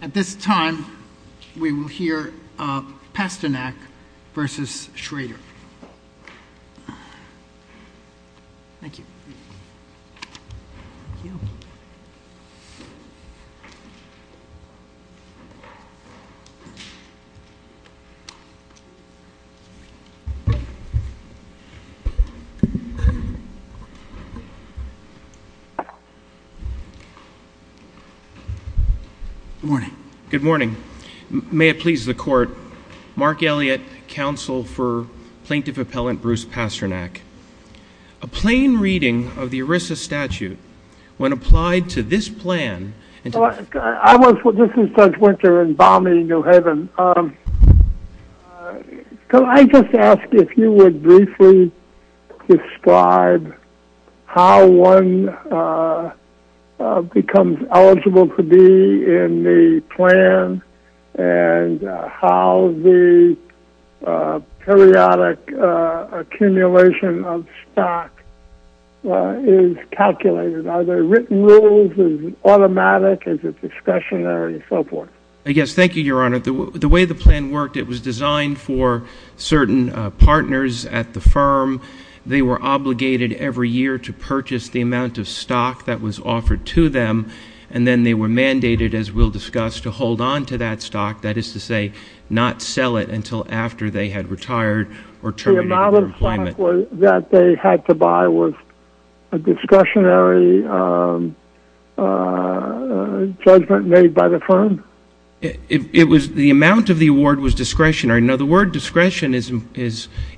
At this time, we will hear Pasternak v. Shrader. Good morning. May it please the court, Mark Elliott, counsel for Plaintiff Appellant Bruce Pasternak. A plain reading of the ERISA statute when applied to this plan... in the plan and how the periodic accumulation of stock is calculated. Are there written rules? Is it automatic? Is it discretionary? And so forth. Yes, thank you, Your Honor. The way the plan worked, it was designed for certain partners at the firm. They were obligated every year to purchase the amount of stock that was offered to them. And then they were mandated, as we'll discuss, to hold on to that stock. That is to say, not sell it until after they had retired or terminated their employment. The amount of stock that they had to buy was a discretionary judgment made by the firm? The amount of the award was discretionary. Now, the word discretion is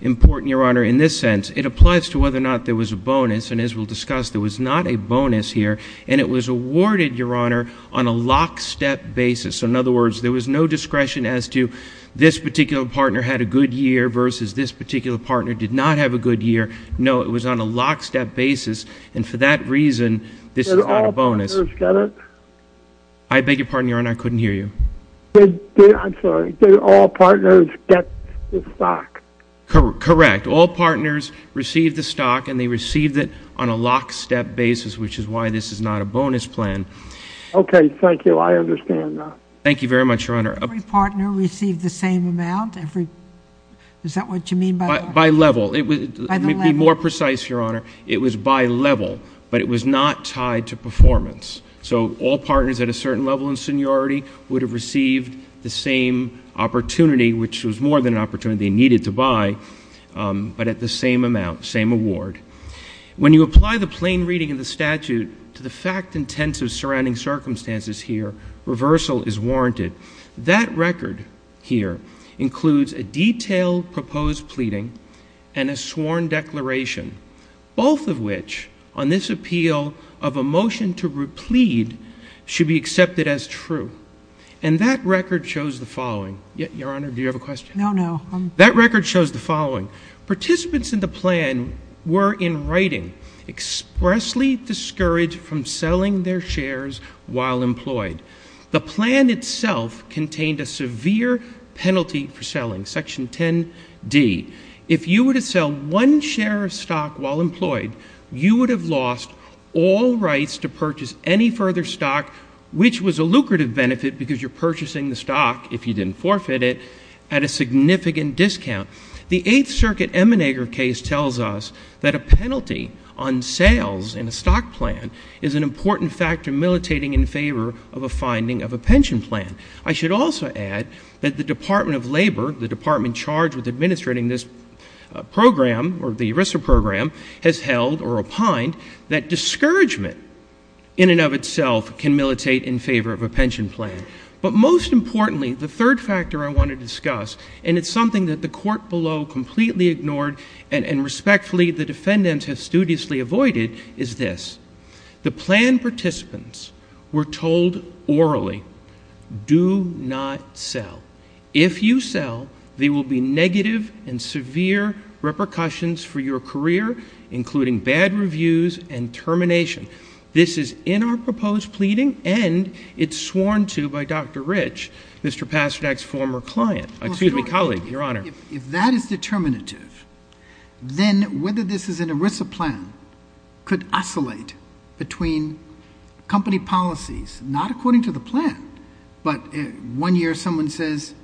important, Your Honor, in this sense. It applies to whether or not there was a bonus. And as we'll discuss, there was not a bonus here. And it was awarded, Your Honor, on a lockstep basis. In other words, there was no discretion as to this particular partner had a good year versus this particular partner did not have a good year. No, it was on a lockstep basis. And for that reason, this is not a bonus. Did all partners get it? I beg your pardon, Your Honor. I couldn't hear you. I'm sorry. Did all partners get the stock? Correct. All partners received the stock, and they received it on a lockstep basis, which is why this is not a bonus plan. Okay. Thank you. I understand that. Thank you very much, Your Honor. Every partner received the same amount? Is that what you mean by that? By level. By the level. To be more precise, Your Honor, it was by level, but it was not tied to performance. So all partners at a certain level in seniority would have received the same opportunity, which was more than an opportunity they needed to buy, but at the same amount, same award. When you apply the plain reading of the statute to the fact and tense of surrounding circumstances here, reversal is warranted. That record here includes a detailed proposed pleading and a sworn declaration, both of which, on this appeal of a motion to replead, should be accepted as true. And that record shows the following. Your Honor, do you have a question? No, no. That record shows the following. Participants in the plan were, in writing, expressly discouraged from selling their shares while employed. The plan itself contained a severe penalty for selling, Section 10D. If you were to sell one share of stock while employed, you would have lost all rights to purchase any further stock, which was a lucrative benefit because you're purchasing the stock, if you didn't forfeit it, at a significant discount. The Eighth Circuit Emmanager case tells us that a penalty on sales in a stock plan is an important factor militating in favor of a finding of a pension plan. I should also add that the Department of Labor, the department charged with administrating this program or the ERISA program, has held or opined that discouragement in and of itself can militate in favor of a pension plan. But most importantly, the third factor I want to discuss, and it's something that the Court below completely ignored and respectfully the defendants have studiously avoided, is this. The plan participants were told orally, do not sell. If you sell, there will be negative and severe repercussions for your career, including bad reviews and termination. This is in our proposed pleading, and it's sworn to by Dr. Rich, Mr. Pasternak's former client. Excuse me, colleague, Your Honor. If that is determinative, then whether this is an ERISA plan could oscillate between company policies, not according to the plan, but one year someone says,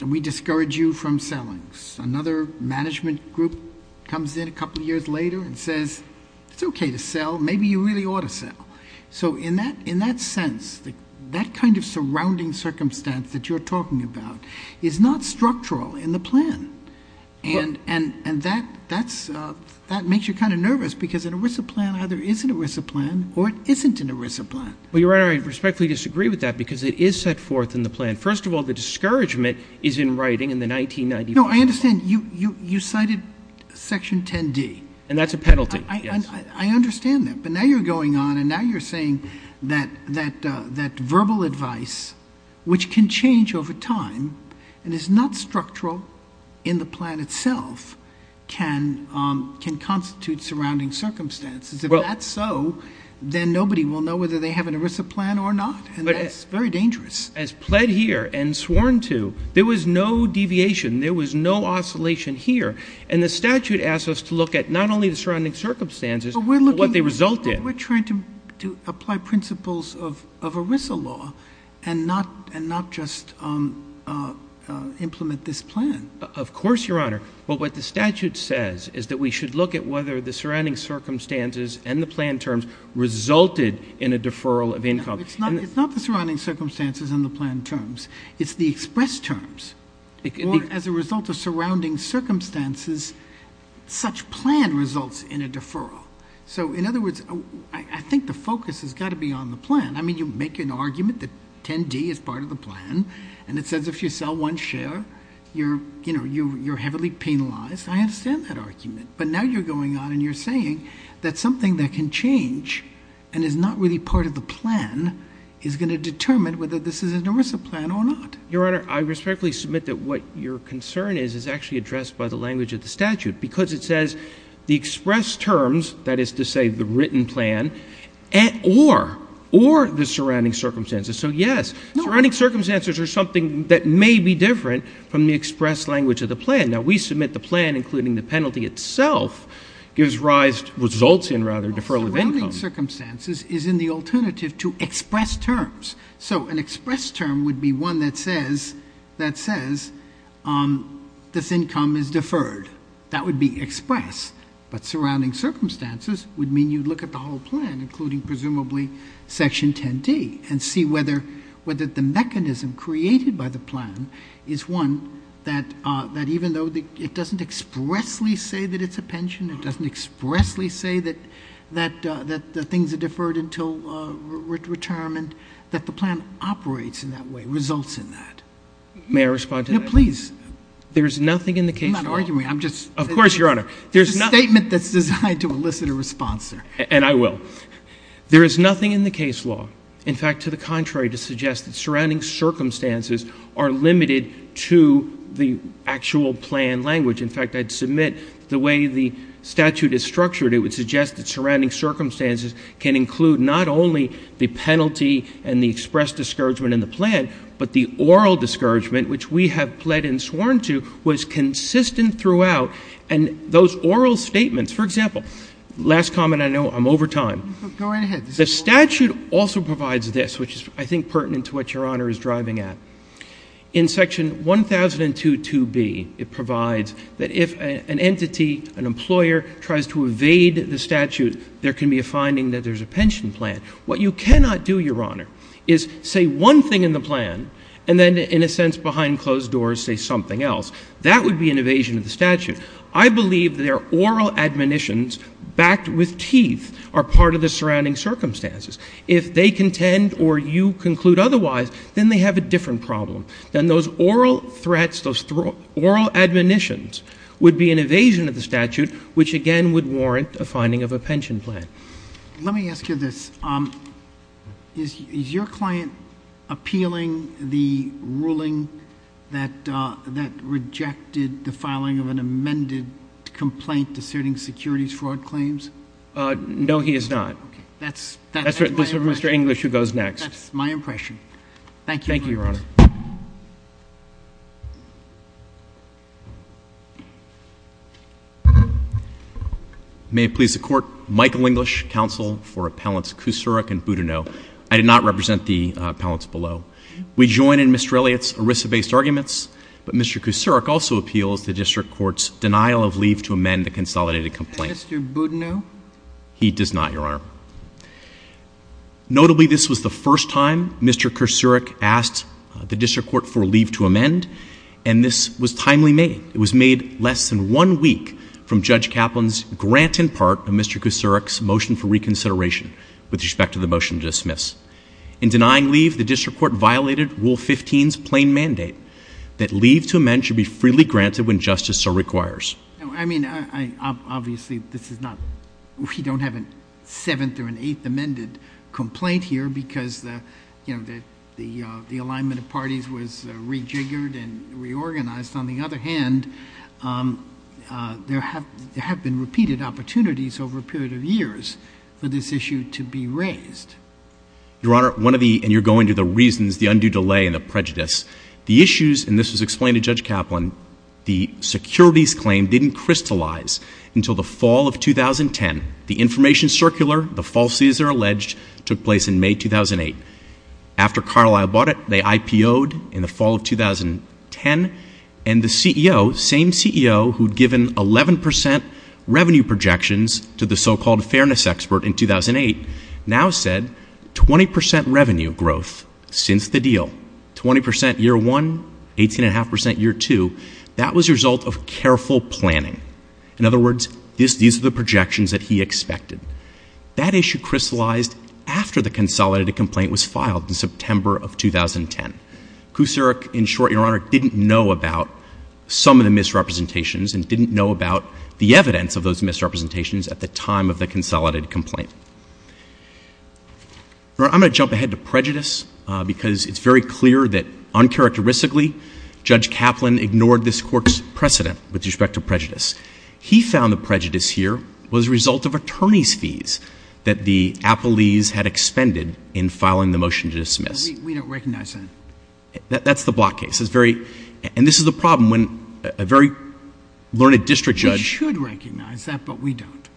we discourage you from selling. Another management group comes in a couple years later and says, it's okay to sell. Maybe you really ought to sell. So in that sense, that kind of surrounding circumstance that you're talking about is not structural in the plan. And that makes you kind of nervous because an ERISA plan either is an ERISA plan or it isn't an ERISA plan. Well, Your Honor, I respectfully disagree with that because it is set forth in the plan. First of all, the discouragement is in writing in the 1990 proposal. No, I understand. You cited Section 10D. And that's a penalty, yes. I understand that. But now you're going on and now you're saying that verbal advice, which can change over time and is not structural in the plan itself, can constitute surrounding circumstances. If that's so, then nobody will know whether they have an ERISA plan or not, and that's very dangerous. As pled here and sworn to, there was no deviation. There was no oscillation here. And the statute asks us to look at not only the surrounding circumstances but what they result in. But we're trying to apply principles of ERISA law and not just implement this plan. Of course, Your Honor. But what the statute says is that we should look at whether the surrounding circumstances and the plan terms resulted in a deferral of income. No, it's not the surrounding circumstances and the plan terms. It's the express terms. Or as a result of surrounding circumstances, such plan results in a deferral. So, in other words, I think the focus has got to be on the plan. I mean, you make an argument that 10D is part of the plan, and it says if you sell one share, you're heavily penalized. I understand that argument. But now you're going on and you're saying that something that can change and is not really part of the plan is going to determine whether this is an ERISA plan or not. Your Honor, I respectfully submit that what your concern is is actually addressed by the language of the statute because it says the express terms, that is to say the written plan, or the surrounding circumstances. So, yes, surrounding circumstances are something that may be different from the express language of the plan. Now, we submit the plan, including the penalty itself, gives rise to results in, rather, deferral of income. Surrounding circumstances is in the alternative to express terms. So an express term would be one that says this income is deferred. That would be express. But surrounding circumstances would mean you look at the whole plan, including presumably Section 10D, and see whether the mechanism created by the plan is one that even though it doesn't expressly say that it's a pension, it doesn't expressly say that things are deferred until retirement, that the plan operates in that way, results in that. May I respond to that? No, please. There is nothing in the case law. I'm not arguing. Of course, Your Honor. There's a statement that's designed to elicit a response there. And I will. There is nothing in the case law, in fact, to the contrary, to suggest that surrounding circumstances are limited to the actual plan language. In fact, I'd submit the way the statute is structured, it would suggest that surrounding circumstances can include not only the penalty and the expressed discouragement in the plan, but the oral discouragement, which we have pled and sworn to, was consistent throughout. And those oral statements, for example, last comment I know, I'm over time. Go ahead. The statute also provides this, which is, I think, pertinent to what Your Honor is driving at. In section 1002.2b, it provides that if an entity, an employer, tries to evade the statute, there can be a finding that there's a pension plan. What you cannot do, Your Honor, is say one thing in the plan and then, in a sense, behind closed doors, say something else. That would be an evasion of the statute. I believe that oral admonitions backed with teeth are part of the surrounding circumstances. If they contend or you conclude otherwise, then they have a different problem. Then those oral threats, those oral admonitions would be an evasion of the statute, which again would warrant a finding of a pension plan. Let me ask you this. Is your client appealing the ruling that rejected the filing of an amended complaint discerning securities fraud claims? No, he is not. That's my impression. That's for Mr. English, who goes next. That's my impression. Thank you, Your Honor. Thank you, Your Honor. May it please the Court, Michael English, counsel for Appellants Kucerich and Boudinot. I did not represent the appellants below. We join in Mr. Elliott's ERISA-based arguments, but Mr. Kucerich also appeals the district court's denial of leave to amend the consolidated complaint. Is Mr. Boudinot? He does not, Your Honor. Notably, this was the first time Mr. Kucerich asked the district court for leave to amend, and this was timely made. It was made less than one week from Judge Kaplan's grant in part of Mr. Kucerich's motion for reconsideration with respect to the motion to dismiss. In denying leave, the district court violated Rule 15's plain mandate that leave to amend should be freely granted when justice so requires. Obviously, we don't have a seventh or an eighth amended complaint here because the alignment of parties was rejiggered and reorganized. On the other hand, there have been repeated opportunities over a period of years for this issue to be raised. Your Honor, you're going to the reasons, the undue delay, and the prejudice. The issues, and this was explained to Judge Kaplan, the securities claim didn't crystallize until the fall of 2010. The information circular, the falsities are alleged, took place in May 2008. After Carlisle bought it, they IPO'd in the fall of 2010, and the CEO, same CEO who'd given 11% revenue projections to the so-called fairness expert in 2008, now said 20% revenue growth since the deal, 20% year one, 18.5% year two, that was a result of careful planning. In other words, these are the projections that he expected. That issue crystallized after the consolidated complaint was filed in September of 2010. Kucerich, in short, Your Honor, didn't know about some of the misrepresentations and didn't know about the evidence of those misrepresentations at the time of the consolidated complaint. Your Honor, I'm going to jump ahead to prejudice because it's very clear that uncharacteristically, Judge Kaplan ignored this court's precedent with respect to prejudice. He found the prejudice here was a result of attorney's fees that the appellees had expended in filing the motion to dismiss. We don't recognize that. That's the Block case. And this is the problem when a very learned district judge We should recognize that, but we don't.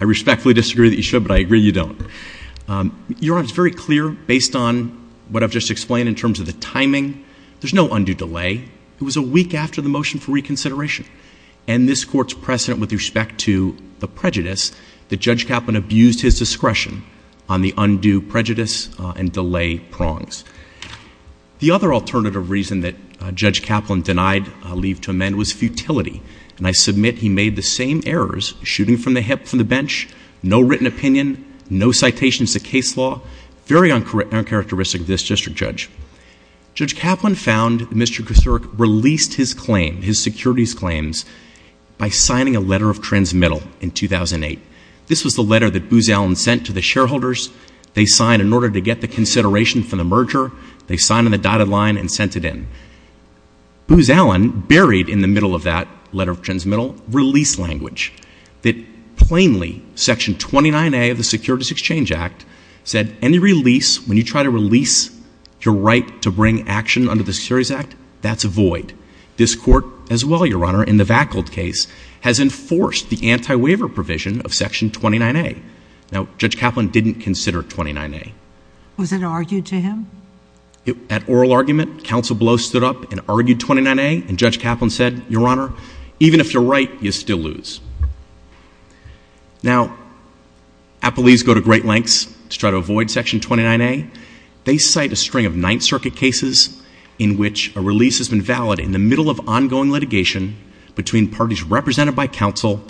I respectfully disagree that you should, but I agree you don't. Your Honor, it's very clear, based on what I've just explained in terms of the timing, there's no undue delay. It was a week after the motion for reconsideration. And this court's precedent with respect to the prejudice, that Judge Kaplan abused his discretion on the undue prejudice and delay prongs. The other alternative reason that Judge Kaplan denied leave to amend was futility. And I submit he made the same errors, shooting from the hip from the bench, no written opinion, no citations to case law. Very uncharacteristic of this district judge. Judge Kaplan found Mr. Kasturic released his claim, his securities claims, by signing a letter of transmittal in 2008. This was the letter that Booz Allen sent to the shareholders. They signed in order to get the consideration for the merger. They signed on the dotted line and sent it in. Booz Allen buried in the middle of that letter of transmittal release language that plainly, Section 29A of the Securities Exchange Act, said any release, when you try to release your right to bring action under the Securities Act, that's a void. This court, as well, Your Honor, in the Vackled case, has enforced the anti-waiver provision of Section 29A. Now, Judge Kaplan didn't consider 29A. Was it argued to him? At oral argument, counsel below stood up and argued 29A. And Judge Kaplan said, Your Honor, even if you're right, you still lose. Now, appellees go to great lengths to try to avoid Section 29A. They cite a string of Ninth Circuit cases in which a release has been valid in the middle of ongoing litigation between parties represented by counsel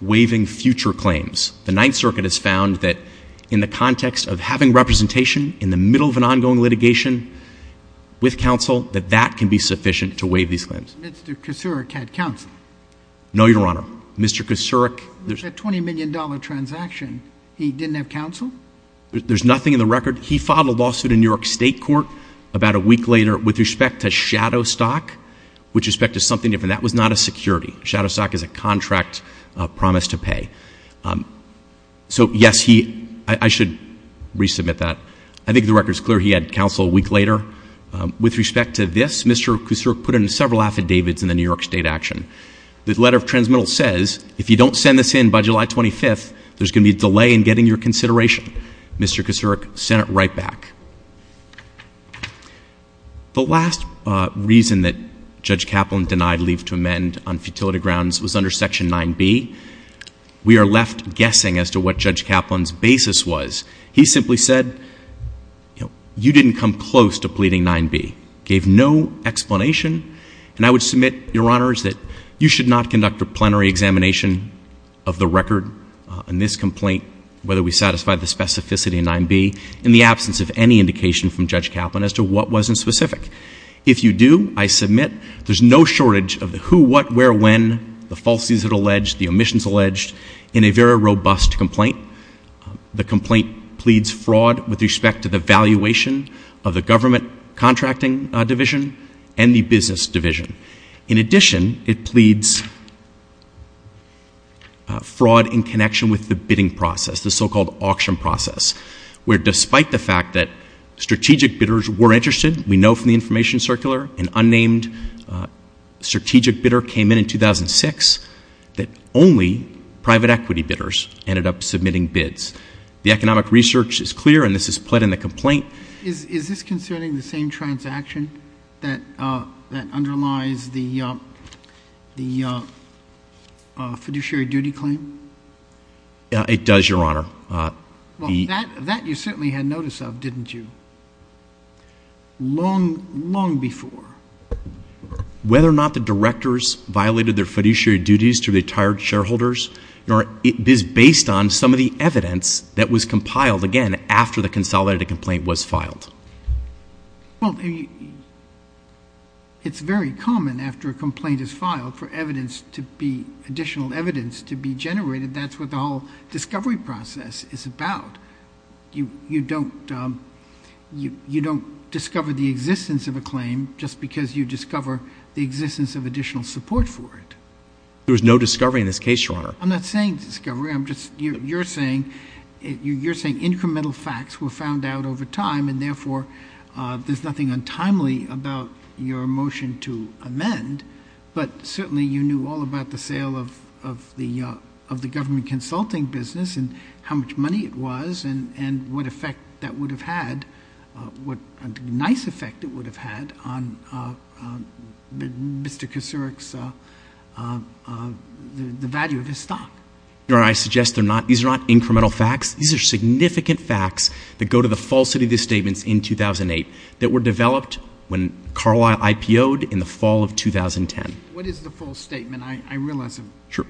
waiving future claims. The Ninth Circuit has found that in the context of having representation in the middle of an ongoing litigation with counsel, that that can be sufficient to waive these claims. Mr. Kucurik had counsel. No, Your Honor. Mr. Kucurik. With that $20 million transaction, he didn't have counsel? There's nothing in the record. He filed a lawsuit in New York State Court about a week later with respect to Shadowstock, with respect to something different. That was not a security. Shadowstock is a contract promised to pay. So, yes, I should resubmit that. I think the record is clear. He had counsel a week later. With respect to this, Mr. Kucurik put in several affidavits in the New York State action. The letter of transmittal says, If you don't send this in by July 25th, there's going to be a delay in getting your consideration. Mr. Kucurik, send it right back. The last reason that Judge Kaplan denied leave to amend on futility grounds was under Section 9B. We are left guessing as to what Judge Kaplan's basis was. He simply said, You didn't come close to pleading 9B. Gave no explanation. And I would submit, Your Honors, that you should not conduct a plenary examination of the record on this complaint, whether we satisfy the specificity of 9B, in the absence of any indication from Judge Kaplan as to what wasn't specific. If you do, I submit there's no shortage of the who, what, where, when, the falsities that are alleged, the omissions alleged, in a very robust complaint. The complaint pleads fraud with respect to the valuation of the government contracting division and the business division. In addition, it pleads fraud in connection with the bidding process, the so-called auction process, where despite the fact that strategic bidders were interested, we know from the information circular, an unnamed strategic bidder came in in 2006, that only private equity bidders ended up submitting bids. The economic research is clear, and this is pled in the complaint. Is this concerning the same transaction that underlies the fiduciary duty claim? It does, Your Honor. Well, that you certainly had notice of, didn't you? Long, long before. Whether or not the directors violated their fiduciary duties to retired shareholders, it is based on some of the evidence that was compiled, again, after the consolidated complaint was filed. Well, it's very common after a complaint is filed for evidence to be, additional evidence to be generated. That's what the whole discovery process is about. You don't discover the existence of a claim just because you discover the existence of additional support for it. There was no discovery in this case, Your Honor. I'm not saying discovery. I'm just, you're saying incremental facts were found out over time, and therefore there's nothing untimely about your motion to amend, but certainly you knew all about the sale of the government consulting business and how much money it was and what effect that would have had, what a nice effect it would have had on Mr. Kuceric's, the value of his stock. Your Honor, I suggest these are not incremental facts. These are significant facts that go to the falsity of these statements in 2008 that were developed when Carlisle IPO-ed in the fall of 2010. What is the false statement? I realize I'm... Sure.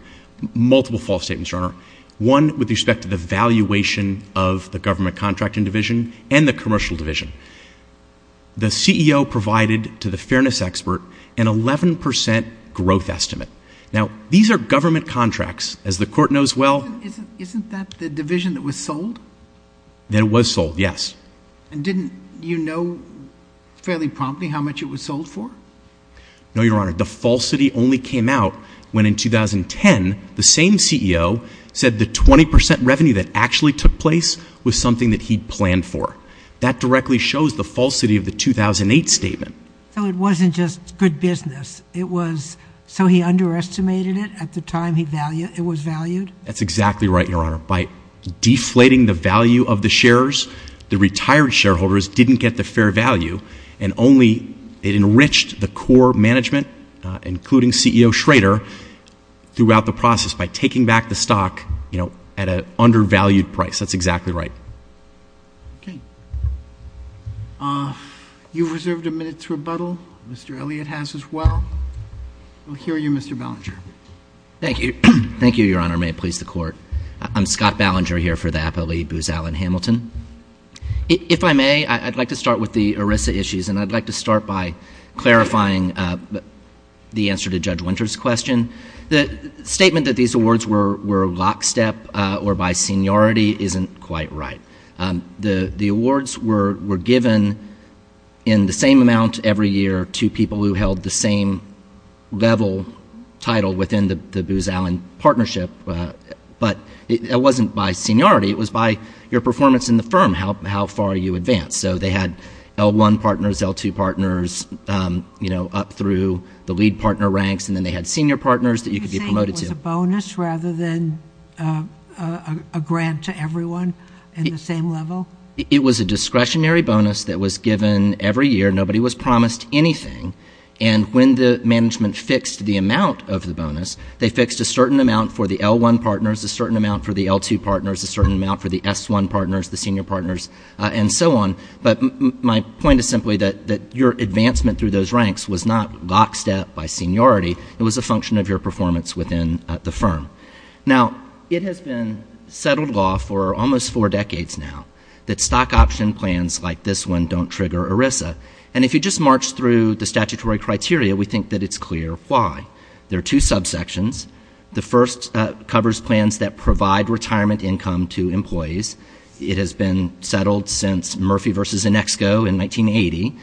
Multiple false statements, Your Honor. One with respect to the valuation of the government contracting division and the commercial division. The CEO provided to the fairness expert an 11 percent growth estimate. Now, these are government contracts. As the Court knows well... Isn't that the division that was sold? That was sold, yes. And didn't you know fairly promptly how much it was sold for? No, Your Honor. The falsity only came out when in 2010 the same CEO said the 20 percent revenue that actually took place was something that he'd planned for. That directly shows the falsity of the 2008 statement. So it wasn't just good business. It was so he underestimated it at the time it was valued? That's exactly right, Your Honor. By deflating the value of the shares, the retired shareholders didn't get the fair value and only it enriched the core management, including CEO Schrader, throughout the process by taking back the stock at an undervalued price. That's exactly right. Okay. You've reserved a minute to rebuttal. Mr. Elliott has as well. We'll hear you, Mr. Ballinger. Thank you. Thank you, Your Honor. May it please the Court. I'm Scott Ballinger here for the Apo Lee Booz Allen Hamilton. If I may, I'd like to start with the ERISA issues, and I'd like to start by clarifying the answer to Judge Winter's question. The statement that these awards were lockstep or by seniority isn't quite right. The awards were given in the same amount every year to people who held the same level title within the Booz Allen partnership, but it wasn't by seniority. It was by your performance in the firm, how far you advanced. So they had L1 partners, L2 partners up through the lead partner ranks, and then they had senior partners that you could be promoted to. Are you saying it was a bonus rather than a grant to everyone in the same level? It was a discretionary bonus that was given every year. Nobody was promised anything. And when the management fixed the amount of the bonus, they fixed a certain amount for the L1 partners, a certain amount for the L2 partners, a certain amount for the S1 partners, the senior partners, and so on. But my point is simply that your advancement through those ranks was not lockstep by seniority. It was a function of your performance within the firm. Now, it has been settled law for almost four decades now that stock option plans like this one don't trigger ERISA. And if you just march through the statutory criteria, we think that it's clear why. There are two subsections. The first covers plans that provide retirement income to employees. It has been settled since Murphy v. Inexco in 1980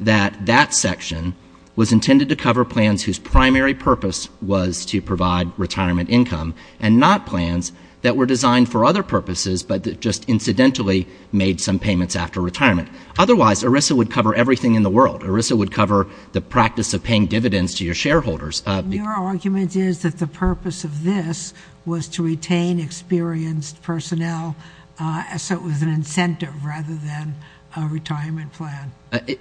that that section was intended to cover plans whose primary purpose was to provide retirement income and not plans that were designed for other purposes but that just incidentally made some payments after retirement. Otherwise, ERISA would cover everything in the world. ERISA would cover the practice of paying dividends to your shareholders. Your argument is that the purpose of this was to retain experienced personnel so it was an incentive rather than a retirement plan.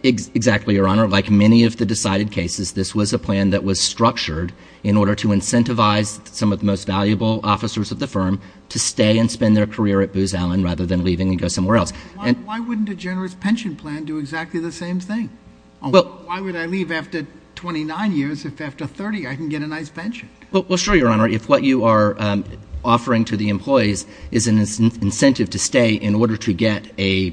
Exactly, Your Honor. Like many of the decided cases, this was a plan that was structured in order to incentivize some of the most valuable officers of the firm to stay and spend their career at Booz Allen rather than leaving and go somewhere else. Why wouldn't a generous pension plan do exactly the same thing? Why would I leave after 29 years if after 30 I can get a nice pension? Well, sure, Your Honor. If what you are offering to the employees is an incentive to stay in order to get a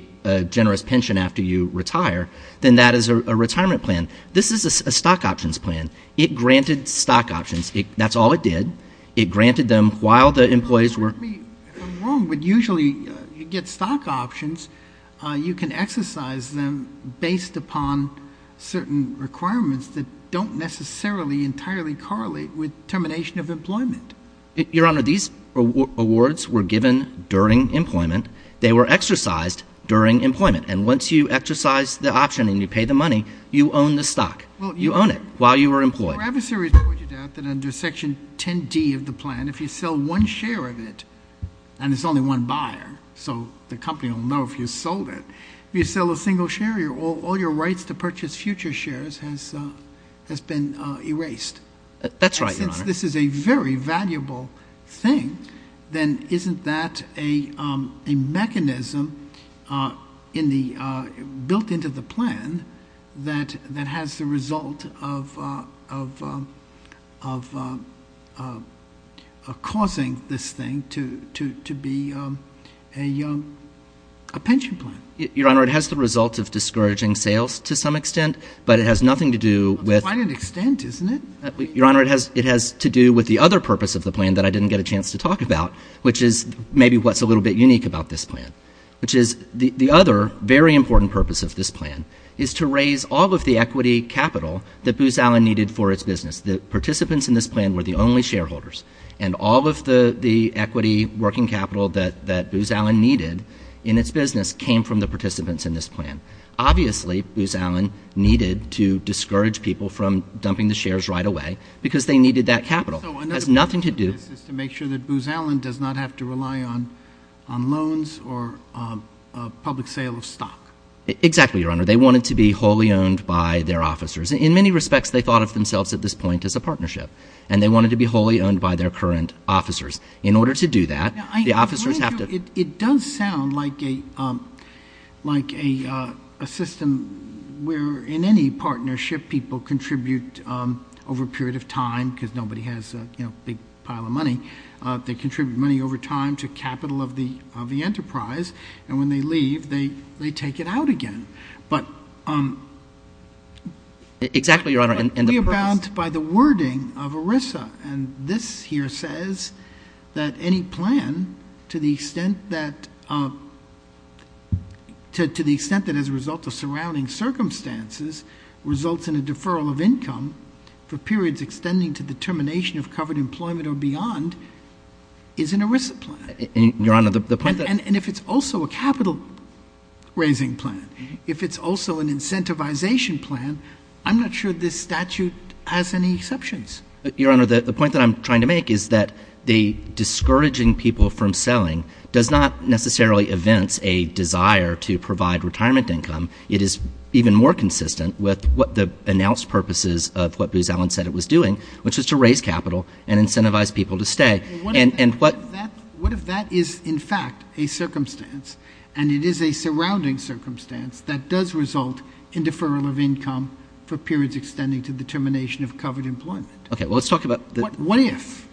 generous pension after you retire, then that is a retirement plan. This is a stock options plan. It granted stock options. That's all it did. It granted them while the employees were – I'm wrong, but usually you get stock options. You can exercise them based upon certain requirements that don't necessarily entirely correlate with termination of employment. Your Honor, these awards were given during employment. They were exercised during employment, and once you exercise the option and you pay the money, you own the stock. You own it while you are employed. Your adversary pointed out that under Section 10D of the plan, if you sell one share of it, and it's only one buyer, so the company will know if you sold it. If you sell a single share, all your rights to purchase future shares has been erased. That's right, Your Honor. Since this is a very valuable thing, then isn't that a mechanism built into the plan that has the result of causing this thing to be a pension plan? Your Honor, it has the result of discouraging sales to some extent, but it has nothing to do with – To quite an extent, isn't it? Your Honor, it has to do with the other purpose of the plan that I didn't get a chance to talk about, which is maybe what's a little bit unique about this plan, which is the other very important purpose of this plan is to raise all of the equity capital that Booz Allen needed for its business. The participants in this plan were the only shareholders, and all of the equity working capital that Booz Allen needed in its business came from the participants in this plan. Obviously, Booz Allen needed to discourage people from dumping the shares right away because they needed that capital. It has nothing to do – So another purpose of this is to make sure that Booz Allen does not have to rely on loans or a public sale of stock. Exactly, Your Honor. They wanted to be wholly owned by their officers. In many respects, they thought of themselves at this point as a partnership, and they wanted to be wholly owned by their current officers. In order to do that, the officers have to – we're in any partnership people contribute over a period of time because nobody has a big pile of money. They contribute money over time to capital of the enterprise, and when they leave, they take it out again. Exactly, Your Honor. We are bound by the wording of ERISA, and this here says that any plan to the extent that as a result of surrounding circumstances results in a deferral of income for periods extending to the termination of covered employment or beyond is an ERISA plan. Your Honor, the point that – And if it's also a capital-raising plan, if it's also an incentivization plan, I'm not sure this statute has any exceptions. Your Honor, the point that I'm trying to make is that the discouraging people from selling does not necessarily evince a desire to provide retirement income. It is even more consistent with what the announced purposes of what Booz Allen said it was doing, which is to raise capital and incentivize people to stay. What if that is in fact a circumstance, and it is a surrounding circumstance, that does result in deferral of income for periods extending to the termination of covered employment? Okay, well, let's talk about – What if?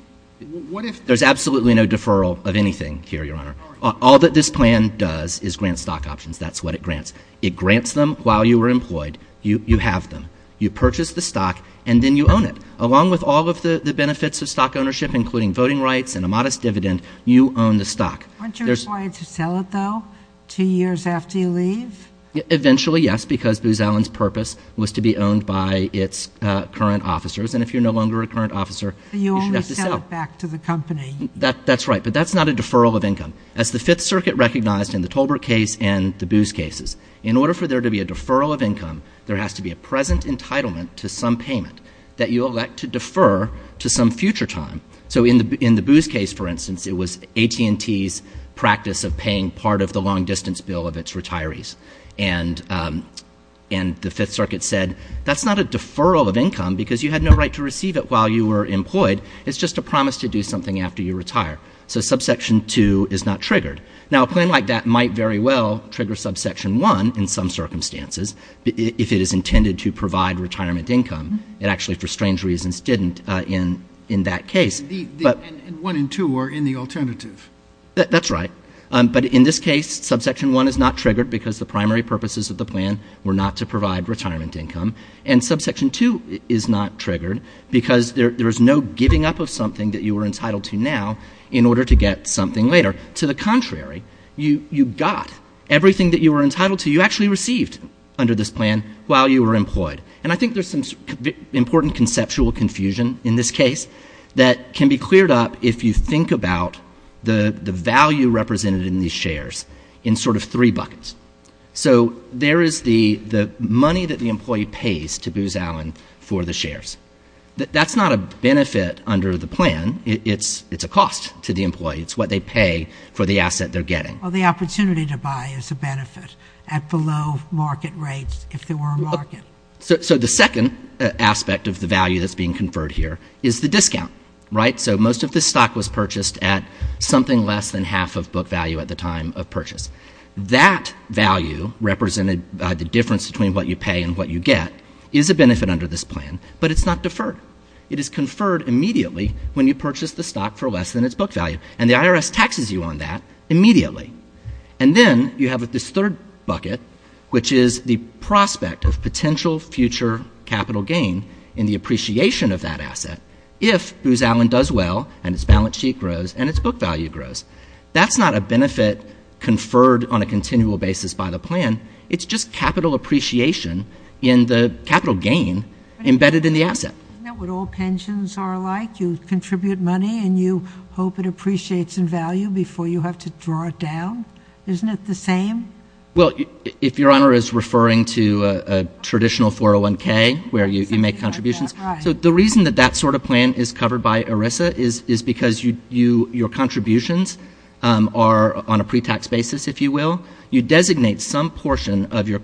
There's absolutely no deferral of anything here, Your Honor. All that this plan does is grant stock options. That's what it grants. It grants them while you are employed. You have them. You purchase the stock, and then you own it. Along with all of the benefits of stock ownership, including voting rights and a modest dividend, you own the stock. Aren't you required to sell it, though, two years after you leave? Eventually, yes, because Booz Allen's purpose was to be owned by its current officers, and if you're no longer a current officer, you should have to sell. You only sell it back to the company. That's right, but that's not a deferral of income. As the Fifth Circuit recognized in the Tolbert case and the Booz cases, in order for there to be a deferral of income, there has to be a present entitlement to some payment that you elect to defer to some future time. So in the Booz case, for instance, it was AT&T's practice of paying part of the long-distance bill of its retirees, and the Fifth Circuit said, that's not a deferral of income because you had no right to receive it while you were employed. It's just a promise to do something after you retire. So Subsection 2 is not triggered. Now, a plan like that might very well trigger Subsection 1 in some circumstances if it is intended to provide retirement income. It actually, for strange reasons, didn't in that case. And 1 and 2 are in the alternative. That's right, but in this case, Subsection 1 is not triggered because the primary purposes of the plan were not to provide retirement income, and Subsection 2 is not triggered because there is no giving up of something that you were entitled to now in order to get something later. To the contrary, you got everything that you were entitled to. You actually received under this plan while you were employed, and I think there's some important conceptual confusion in this case that can be cleared up if you think about the value represented in these shares in sort of three buckets. So there is the money that the employee pays to Booz Allen for the shares. That's not a benefit under the plan. It's a cost to the employee. It's what they pay for the asset they're getting. Well, the opportunity to buy is a benefit at below market rates if there were a market. So the second aspect of the value that's being conferred here is the discount, right? So most of this stock was purchased at something less than half of book value at the time of purchase. That value represented by the difference between what you pay and what you get is a benefit under this plan, but it's not deferred. It is conferred immediately when you purchase the stock for less than its book value, and the IRS taxes you on that immediately. And then you have this third bucket, which is the prospect of potential future capital gain in the appreciation of that asset if Booz Allen does well and its balance sheet grows and its book value grows. That's not a benefit conferred on a continual basis by the plan. It's just capital appreciation in the capital gain embedded in the asset. Isn't that what all pensions are like? You contribute money and you hope it appreciates in value before you have to draw it down? Isn't it the same? Well, if Your Honor is referring to a traditional 401K where you make contributions. So the reason that that sort of plan is covered by ERISA is because your contributions are on a pre-tax basis, if you will. You designate some portion of your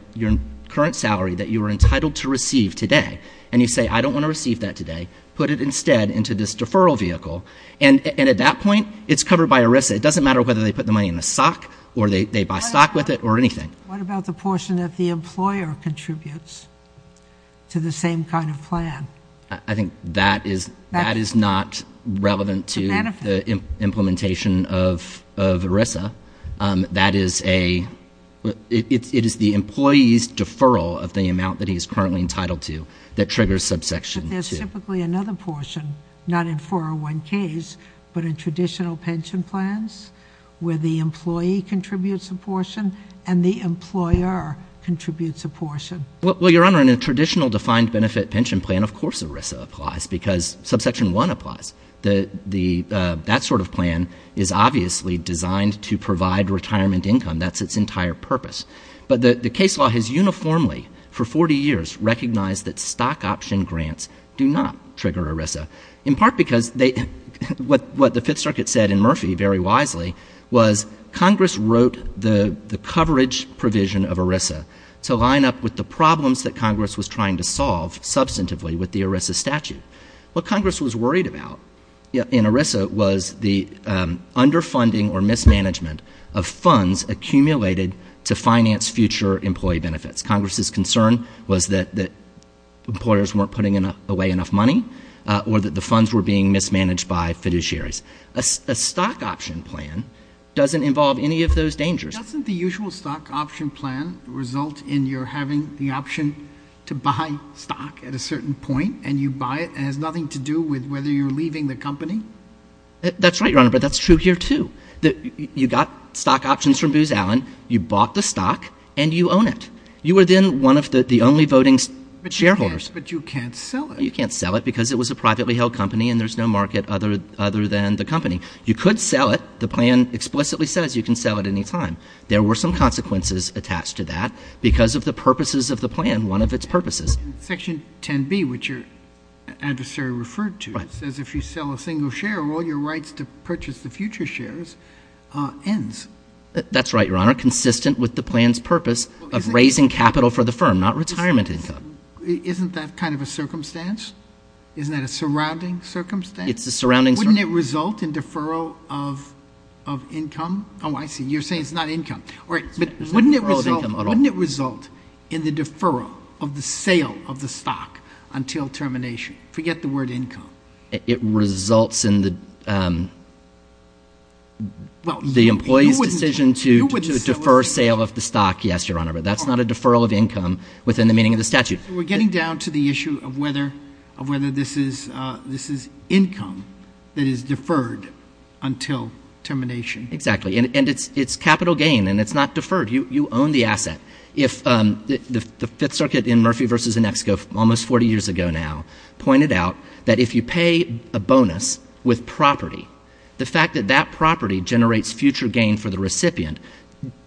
current salary that you are entitled to receive today, and you say, I don't want to receive that today. Put it instead into this deferral vehicle. And at that point, it's covered by ERISA. It doesn't matter whether they put the money in a stock or they buy stock with it or anything. What about the portion that the employer contributes to the same kind of plan? I think that is not relevant to the implementation of ERISA. That is a – it is the employee's deferral of the amount that he is currently entitled to that triggers subsection 2. But there's typically another portion, not in 401Ks, but in traditional pension plans, where the employee contributes a portion and the employer contributes a portion. Well, Your Honor, in a traditional defined benefit pension plan, of course ERISA applies because subsection 1 applies. That sort of plan is obviously designed to provide retirement income. That's its entire purpose. But the case law has uniformly for 40 years recognized that stock option grants do not trigger ERISA, in part because what the Fifth Circuit said in Murphy very wisely was Congress wrote the coverage provision of ERISA to line up with the problems that Congress was trying to solve substantively with the ERISA statute. What Congress was worried about in ERISA was the underfunding or mismanagement of funds accumulated to finance future employee benefits. Congress's concern was that employers weren't putting away enough money or that the funds were being mismanaged by fiduciaries. A stock option plan doesn't involve any of those dangers. Doesn't the usual stock option plan result in your having the option to buy stock at a certain point and you buy it and it has nothing to do with whether you're leaving the company? That's right, Your Honor, but that's true here too. You got stock options from Booz Allen, you bought the stock, and you own it. You are then one of the only voting shareholders. But you can't sell it. You can't sell it because it was a privately held company and there's no market other than the company. You could sell it. The plan explicitly says you can sell it any time. There were some consequences attached to that because of the purposes of the plan, one of its purposes. Section 10B, which your adversary referred to, says if you sell a single share, all your rights to purchase the future shares ends. That's right, Your Honor, consistent with the plan's purpose of raising capital for the firm, not retirement income. Isn't that kind of a circumstance? Isn't that a surrounding circumstance? It's a surrounding circumstance. Wouldn't it result in deferral of income? Oh, I see. You're saying it's not income. Wouldn't it result in the deferral of the sale of the stock until termination? Forget the word income. It results in the employee's decision to defer sale of the stock, yes, Your Honor, but that's not a deferral of income within the meaning of the statute. We're getting down to the issue of whether this is income that is deferred until termination. Exactly, and it's capital gain, and it's not deferred. You own the asset. The Fifth Circuit in Murphy v. Inexco almost 40 years ago now pointed out that if you pay a bonus with property, the fact that that property generates future gain for the recipient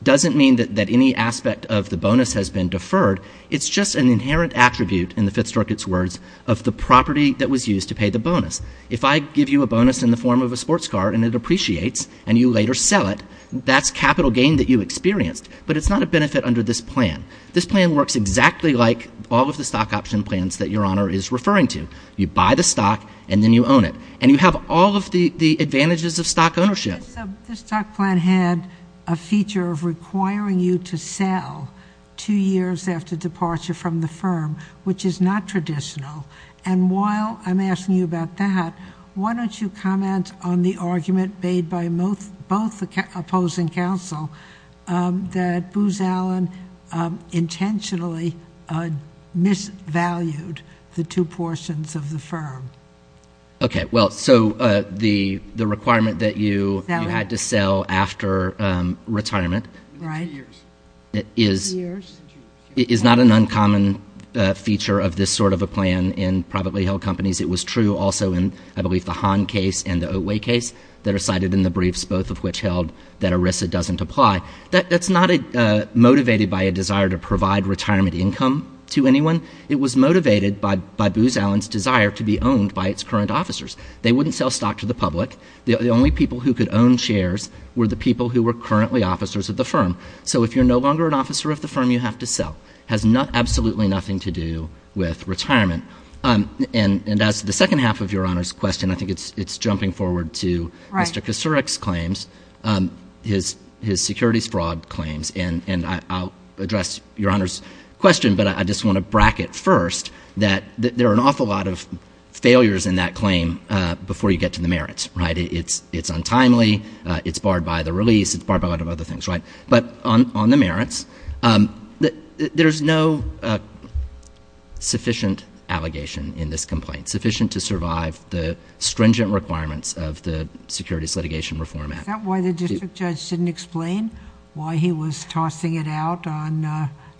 doesn't mean that any aspect of the bonus has been deferred. It's just an inherent attribute, in the Fifth Circuit's words, of the property that was used to pay the bonus. If I give you a bonus in the form of a sports car and it appreciates and you later sell it, that's capital gain that you experienced, but it's not a benefit under this plan. This plan works exactly like all of the stock option plans that Your Honor is referring to. You buy the stock, and then you own it, and you have all of the advantages of stock ownership. This stock plan had a feature of requiring you to sell two years after departure from the firm, which is not traditional. And while I'm asking you about that, why don't you comment on the argument made by both opposing counsel that Booz Allen intentionally misvalued the two portions of the firm? Okay, well, so the requirement that you had to sell after retirement is not an uncommon feature of this sort of a plan in privately held companies. It was true also in, I believe, the Hahn case and the Oatway case that are cited in the briefs, both of which held that ERISA doesn't apply. That's not motivated by a desire to provide retirement income to anyone. It was motivated by Booz Allen's desire to be owned by its current officers. They wouldn't sell stock to the public. The only people who could own shares were the people who were currently officers of the firm. So if you're no longer an officer of the firm, you have to sell. It has absolutely nothing to do with retirement. And as to the second half of Your Honor's question, I think it's jumping forward to Mr. Kucerec's claims, his securities fraud claims. And I'll address Your Honor's question, but I just want to bracket first that there are an awful lot of failures in that claim before you get to the merits. It's untimely. It's barred by the release. It's barred by a lot of other things. But on the merits, there's no sufficient allegation in this complaint, sufficient to survive the stringent requirements of the Securities Litigation Reform Act. Is that why the district judge didn't explain why he was tossing it out on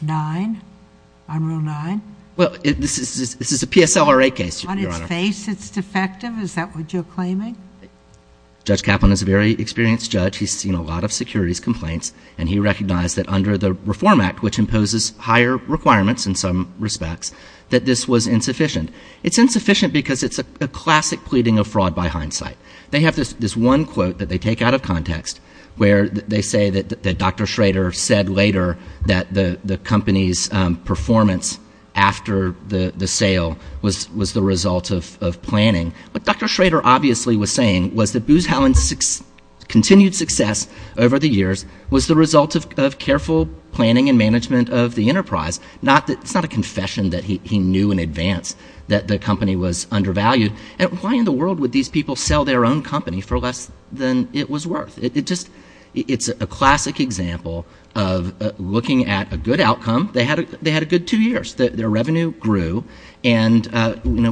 9, on Rule 9? Well, this is a PSLRA case, Your Honor. On its face, it's defective? Is that what you're claiming? Judge Kaplan is a very experienced judge. He's seen a lot of securities complaints. And he recognized that under the Reform Act, which imposes higher requirements in some respects, that this was insufficient. It's insufficient because it's a classic pleading of fraud by hindsight. They have this one quote that they take out of context where they say that Dr. Schrader said later that the company's performance after the sale was the result of planning. What Dr. Schrader obviously was saying was that Booz Halen's continued success over the years was the result of careful planning and management of the enterprise. It's not a confession that he knew in advance that the company was undervalued. And why in the world would these people sell their own company for less than it was worth? It's a classic example of looking at a good outcome. They had a good two years. Their revenue grew. And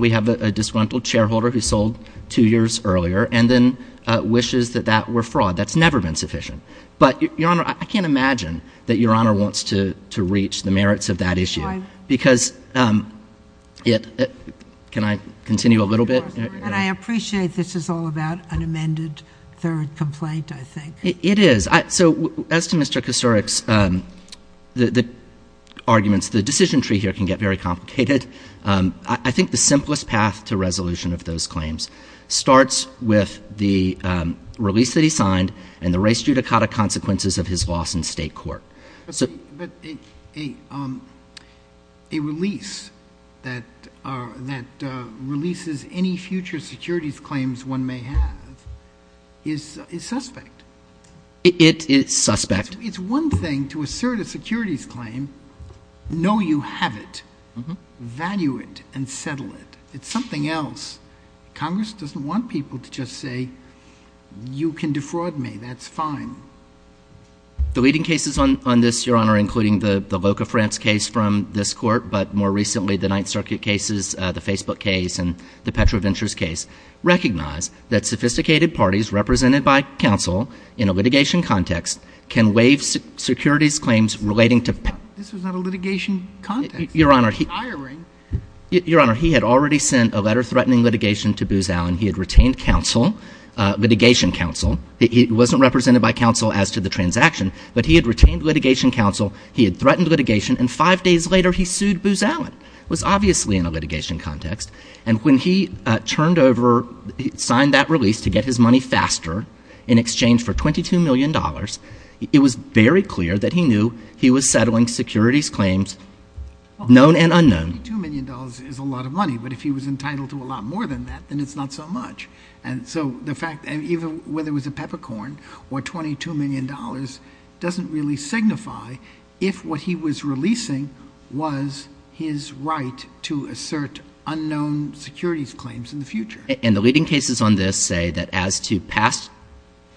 we have a disgruntled shareholder who sold two years earlier and then wishes that that were fraud. That's never been sufficient. But, Your Honor, I can't imagine that Your Honor wants to reach the merits of that issue. Can I continue a little bit? And I appreciate this is all about an amended third complaint, I think. It is. So as to Mr. Kucerec's arguments, the decision tree here can get very complicated. I think the simplest path to resolution of those claims starts with the release that he signed and the race judicata consequences of his loss in state court. But a release that releases any future securities claims one may have is suspect. It is suspect. It's one thing to assert a securities claim, know you have it, value it, and settle it. It's something else. Congress doesn't want people to just say you can defraud me. That's fine. The leading cases on this, Your Honor, including the Loca France case from this court, but more recently the Ninth Circuit cases, the Facebook case, and the PetroVentures case, recognize that sophisticated parties represented by counsel in a litigation context can waive securities claims relating to PetroVentures. This was not a litigation context. Your Honor, he had already sent a letter threatening litigation to Booz Allen. He had retained counsel, litigation counsel. He wasn't represented by counsel as to the transaction, but he had retained litigation counsel. He had threatened litigation, and five days later he sued Booz Allen. It was obviously in a litigation context. And when he turned over, signed that release to get his money faster in exchange for $22 million, it was very clear that he knew he was settling securities claims, known and unknown. $22 million is a lot of money, but if he was entitled to a lot more than that, then it's not so much. And so the fact that even whether it was a peppercorn or $22 million doesn't really signify if what he was releasing was his right to assert unknown securities claims in the future. And the leading cases on this say that as to past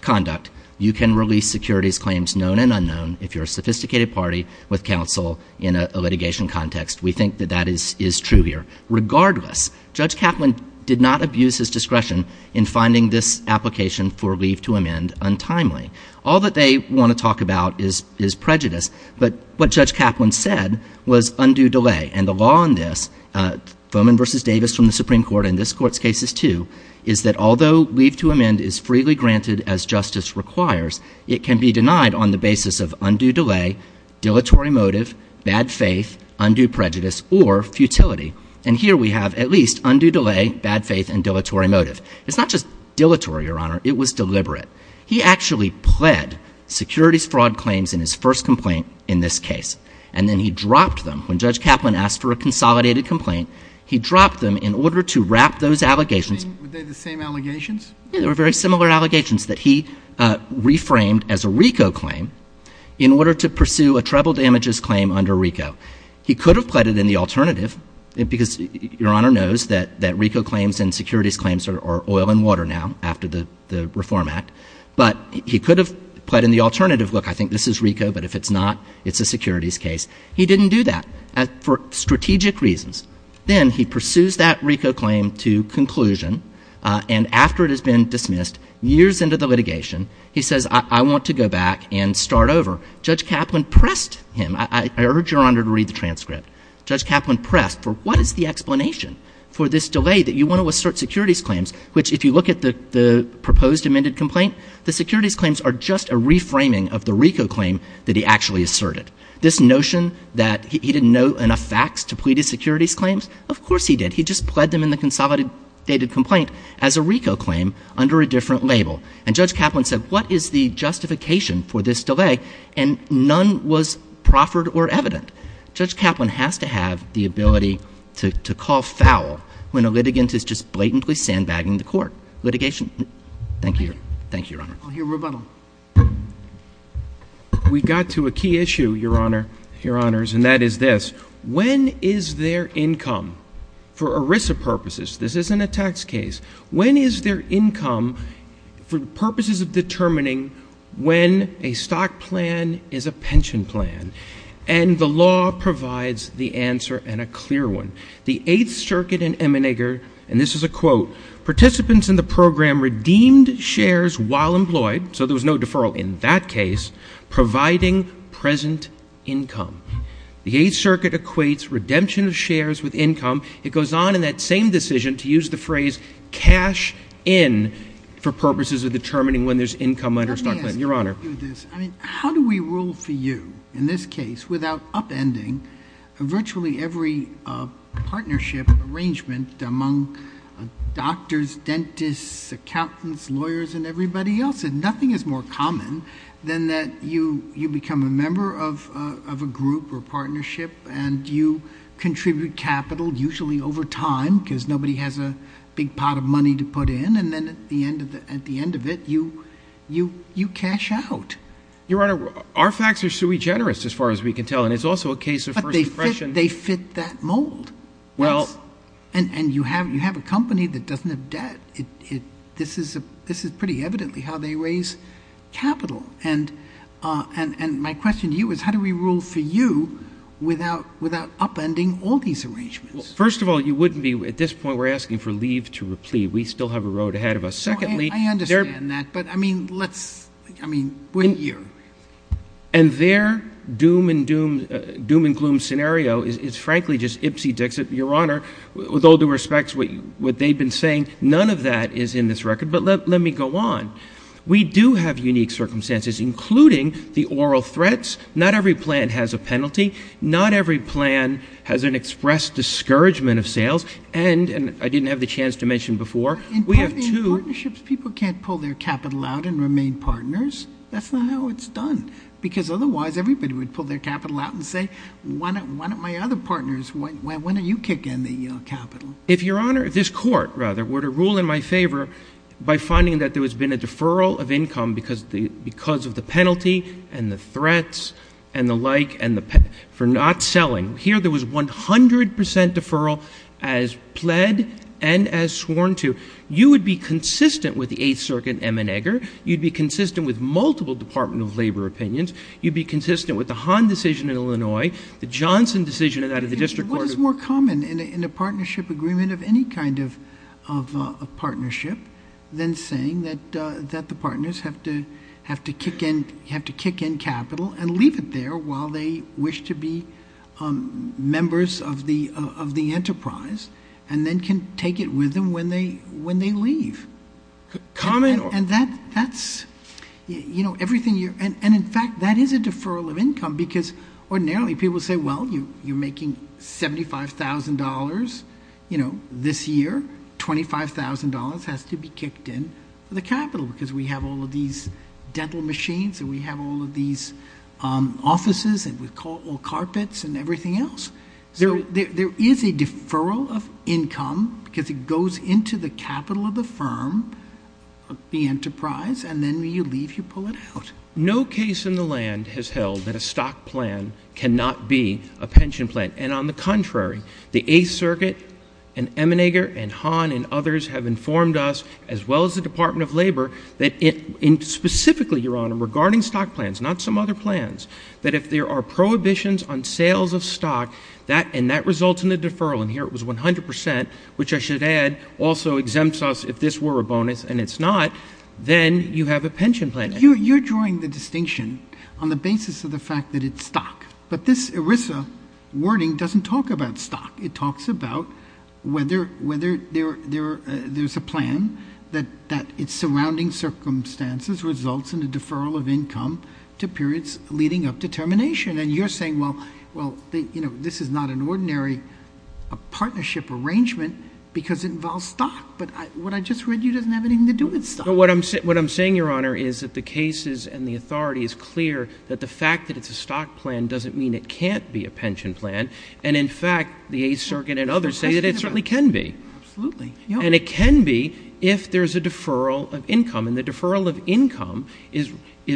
conduct, you can release securities claims known and unknown if you're a sophisticated party with counsel in a litigation context. We think that that is true here. Regardless, Judge Kaplan did not abuse his discretion in finding this application for leave to amend untimely. All that they want to talk about is prejudice, but what Judge Kaplan said was undue delay. And the law on this, Foman v. Davis from the Supreme Court and this Court's cases too, is that although leave to amend is freely granted as justice requires, it can be denied on the basis of undue delay, dilatory motive, bad faith, undue prejudice, or futility. And here we have at least undue delay, bad faith, and dilatory motive. It's not just dilatory, Your Honor. It was deliberate. He actually pled securities fraud claims in his first complaint in this case, and then he dropped them. When Judge Kaplan asked for a consolidated complaint, he dropped them in order to wrap those allegations. Were they the same allegations? Yeah, they were very similar allegations that he reframed as a RICO claim in order to pursue a treble damages claim under RICO. He could have pled it in the alternative, because Your Honor knows that RICO claims and securities claims are oil and water now after the Reform Act. But he could have pled in the alternative, look, I think this is RICO, but if it's not, it's a securities case. He didn't do that for strategic reasons. Then he pursues that RICO claim to conclusion, and after it has been dismissed, years into the litigation, he says, I want to go back and start over. Judge Kaplan pressed him. I urge Your Honor to read the transcript. Judge Kaplan pressed for what is the explanation for this delay that you want to assert securities claims, which if you look at the proposed amended complaint, the securities claims are just a reframing of the RICO claim that he actually asserted. This notion that he didn't know enough facts to plead his securities claims, of course he did. He just pled them in the consolidated complaint as a RICO claim under a different label. And Judge Kaplan said, what is the justification for this delay, and none was proffered or evident. Judge Kaplan has to have the ability to call foul when a litigant is just blatantly sandbagging the court. Litigation. Thank you. Thank you, Your Honor. I'll hear rebuttal. We got to a key issue, Your Honor, Your Honors, and that is this. When is their income, for ERISA purposes, this isn't a tax case, when is their income, for purposes of determining when a stock plan is a pension plan? And the law provides the answer and a clear one. The Eighth Circuit in Emmenager, and this is a quote, participants in the program redeemed shares while employed, so there was no deferral in that case, providing present income. The Eighth Circuit equates redemption of shares with income. It goes on in that same decision to use the phrase cash in for purposes of determining when there's income under a stock plan. Let me ask you this. I mean, how do we rule for you in this case without upending virtually every partnership arrangement among doctors, dentists, accountants, lawyers, and everybody else? Nothing is more common than that you become a member of a group or partnership and you contribute capital, usually over time because nobody has a big pot of money to put in, and then at the end of it, you cash out. Your Honor, our facts are sui generis as far as we can tell, and it's also a case of first impression. But they fit that mold. And you have a company that doesn't have debt. This is pretty evidently how they raise capital. And my question to you is how do we rule for you without upending all these arrangements? Well, first of all, you wouldn't be at this point we're asking for leave to replieve. We still have a road ahead of us. Secondly, there are — I understand that, but, I mean, let's — I mean, we're here. And their doom and gloom scenario is frankly just ipsy dixit. Your Honor, with all due respect to what they've been saying, none of that is in this record. But let me go on. We do have unique circumstances, including the oral threats. Not every plan has a penalty. Not every plan has an express discouragement of sales. And I didn't have the chance to mention before, we have two — In partnerships, people can't pull their capital out and remain partners. That's not how it's done. Because otherwise, everybody would pull their capital out and say, why don't my other partners, why don't you kick in the capital? If, Your Honor, if this court, rather, were to rule in my favor by finding that there has been a deferral of income because of the penalty and the threats and the like for not selling, here there was 100 percent deferral as pled and as sworn to. You would be consistent with the Eighth Circuit, M. Egger. You'd be consistent with multiple Department of Labor opinions. You'd be consistent with the Hahn decision in Illinois, the Johnson decision and that of the district court. What is more common in a partnership agreement of any kind of partnership than saying that the partners have to kick in capital and leave it there while they wish to be members of the enterprise and then can take it with them when they leave? And that's, you know, everything you're — and in fact, that is a deferral of income because ordinarily people say, well, you're making $75,000, you know, this year. $25,000 has to be kicked in for the capital because we have all of these dental machines and we have all of these offices and carpets and everything else. There is a deferral of income because it goes into the capital of the firm, the enterprise, and then you leave, you pull it out. No case in the land has held that a stock plan cannot be a pension plan. And on the contrary, the Eighth Circuit and M. Egger and Hahn and others have informed us, as well as the Department of Labor, that specifically, Your Honor, regarding stock plans, not some other plans, that if there are prohibitions on sales of stock and that results in a deferral, and here it was 100 percent, which I should add also exempts us if this were a bonus and it's not, then you have a pension plan. You're drawing the distinction on the basis of the fact that it's stock. But this ERISA wording doesn't talk about stock. It talks about whether there's a plan that its surrounding circumstances results in a deferral of income to periods leading up to termination. And you're saying, well, this is not an ordinary partnership arrangement because it involves stock. But what I just read you doesn't have anything to do with stock. What I'm saying, Your Honor, is that the cases and the authority is clear that the fact that it's a stock plan doesn't mean it can't be a pension plan. And, in fact, the Eighth Circuit and others say that it certainly can be. Absolutely. And it can be if there's a deferral of income. And the deferral of income is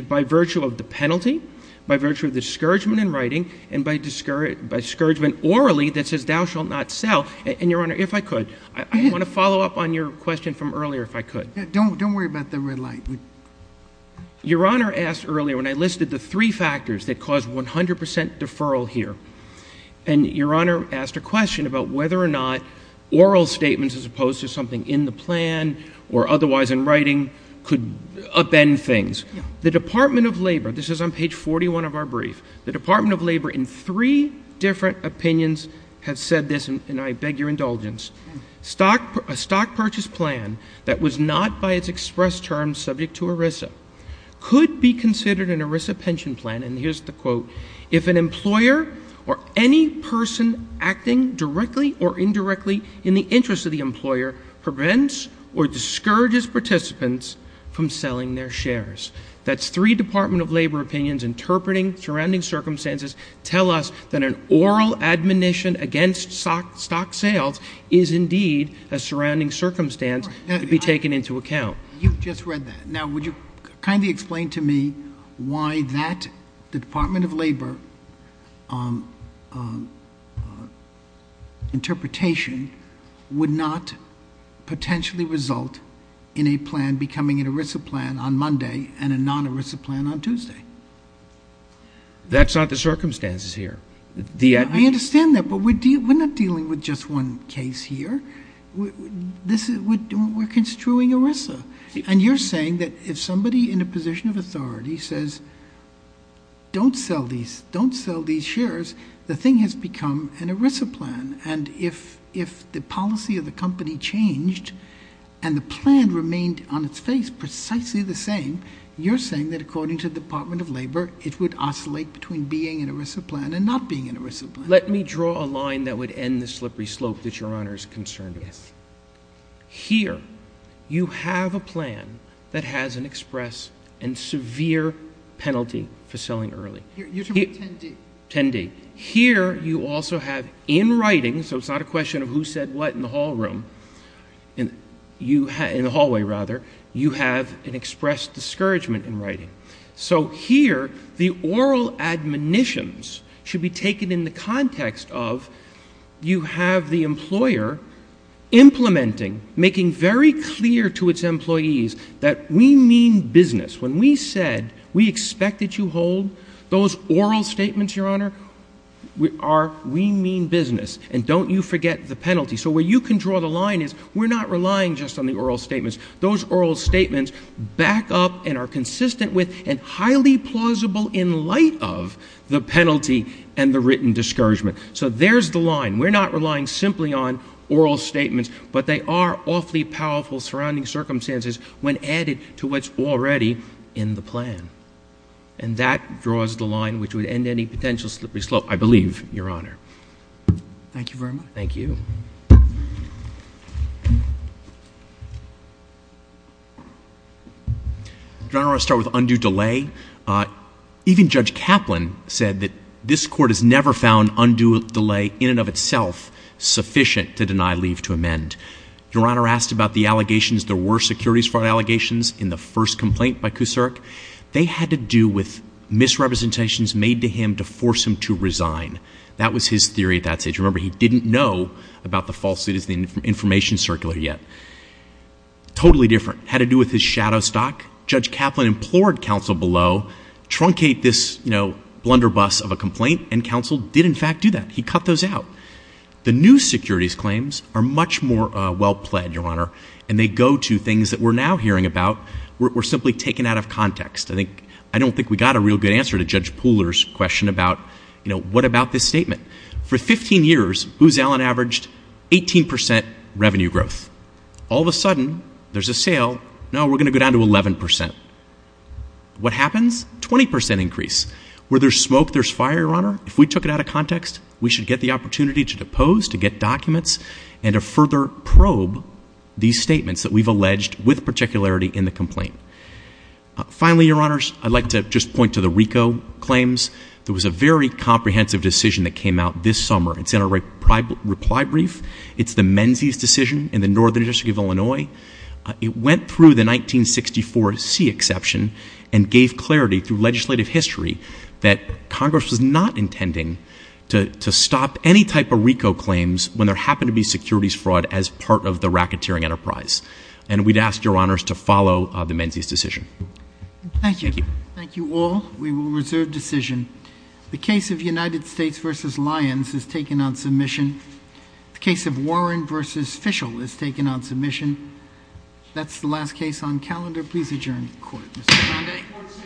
by virtue of the penalty, by virtue of discouragement in writing, and by discouragement orally that says thou shalt not sell. And, Your Honor, if I could, I want to follow up on your question from earlier, if I could. Don't worry about the red light. Your Honor asked earlier, when I listed the three factors that cause 100 percent deferral here, and Your Honor asked a question about whether or not oral statements as opposed to something in the plan or otherwise in writing could upend things. The Department of Labor, this is on page 41 of our brief, the Department of Labor in three different opinions has said this, and I beg your indulgence, a stock purchase plan that was not by its express terms subject to ERISA could be considered an ERISA pension plan, and here's the quote, if an employer or any person acting directly or indirectly in the interest of the employer prevents or discourages participants from selling their shares. That's three Department of Labor opinions interpreting surrounding circumstances tell us that an oral admonition against stock sales is indeed a surrounding circumstance to be taken into account. You just read that. Now, would you kindly explain to me why that the Department of Labor interpretation would not potentially result in a plan becoming an ERISA plan on Monday and a non-ERISA plan on Tuesday? That's not the circumstances here. I understand that, but we're not dealing with just one case here. We're construing ERISA, and you're saying that if somebody in a position of authority says don't sell these shares, the thing has become an ERISA plan, and if the policy of the company changed and the plan remained on its face precisely the same, you're saying that according to the Department of Labor, it would oscillate between being an ERISA plan and not being an ERISA plan. Let me draw a line that would end the slippery slope that Your Honor is concerned with. Yes. Here, you have a plan that has an express and severe penalty for selling early. You're talking about 10D. 10D. Here, you also have in writing, so it's not a question of who said what in the hallway, you have an express discouragement in writing. So here, the oral admonitions should be taken in the context of you have the employer implementing, making very clear to its employees that we mean business. When we said we expect that you hold those oral statements, Your Honor, we mean business, and don't you forget the penalty. So where you can draw the line is we're not relying just on the oral statements. Those oral statements back up and are consistent with and highly plausible in light of the penalty and the written discouragement. So there's the line. We're not relying simply on oral statements, but they are awfully powerful surrounding circumstances when added to what's already in the plan. And that draws the line which would end any potential slippery slope, I believe, Your Honor. Thank you very much. Thank you. Your Honor, I want to start with undue delay. Even Judge Kaplan said that this Court has never found undue delay in and of itself sufficient to deny leave to amend. Your Honor asked about the allegations. There were securities fraud allegations in the first complaint by Kucerk. They had to do with misrepresentations made to him to force him to resign. That was his theory at that stage. Remember, he didn't know about the falsehoods, the information circular yet. Totally different. Had to do with his shadow stock. Judge Kaplan implored counsel below, truncate this blunderbuss of a complaint, and counsel did, in fact, do that. He cut those out. The new securities claims are much more well-plaid, Your Honor, and they go to things that we're now hearing about. We're simply taken out of context. I don't think we got a real good answer to Judge Pooler's question about what about this statement. For 15 years, Booz Allen averaged 18 percent revenue growth. All of a sudden, there's a sale. No, we're going to go down to 11 percent. What happens? Twenty percent increase. Where there's smoke, there's fire, Your Honor. If we took it out of context, we should get the opportunity to depose, to get documents, and to further probe these statements that we've alleged with particularity in the complaint. Finally, Your Honors, I'd like to just point to the RICO claims. There was a very comprehensive decision that came out this summer. It's in our reply brief. It's the Menzies decision in the Northern District of Illinois. It went through the 1964 C exception and gave clarity through legislative history that Congress was not intending to stop any type of RICO claims when there happened to be securities fraud as part of the racketeering enterprise, and we'd ask Your Honors to follow the Menzies decision. Thank you. Thank you. Thank you all. We will reserve decision. The case of United States v. Lyons is taken on submission. The case of Warren v. Fishel is taken on submission. That's the last case on calendar. Please adjourn to the court. Mr. Conde. The court is adjourned.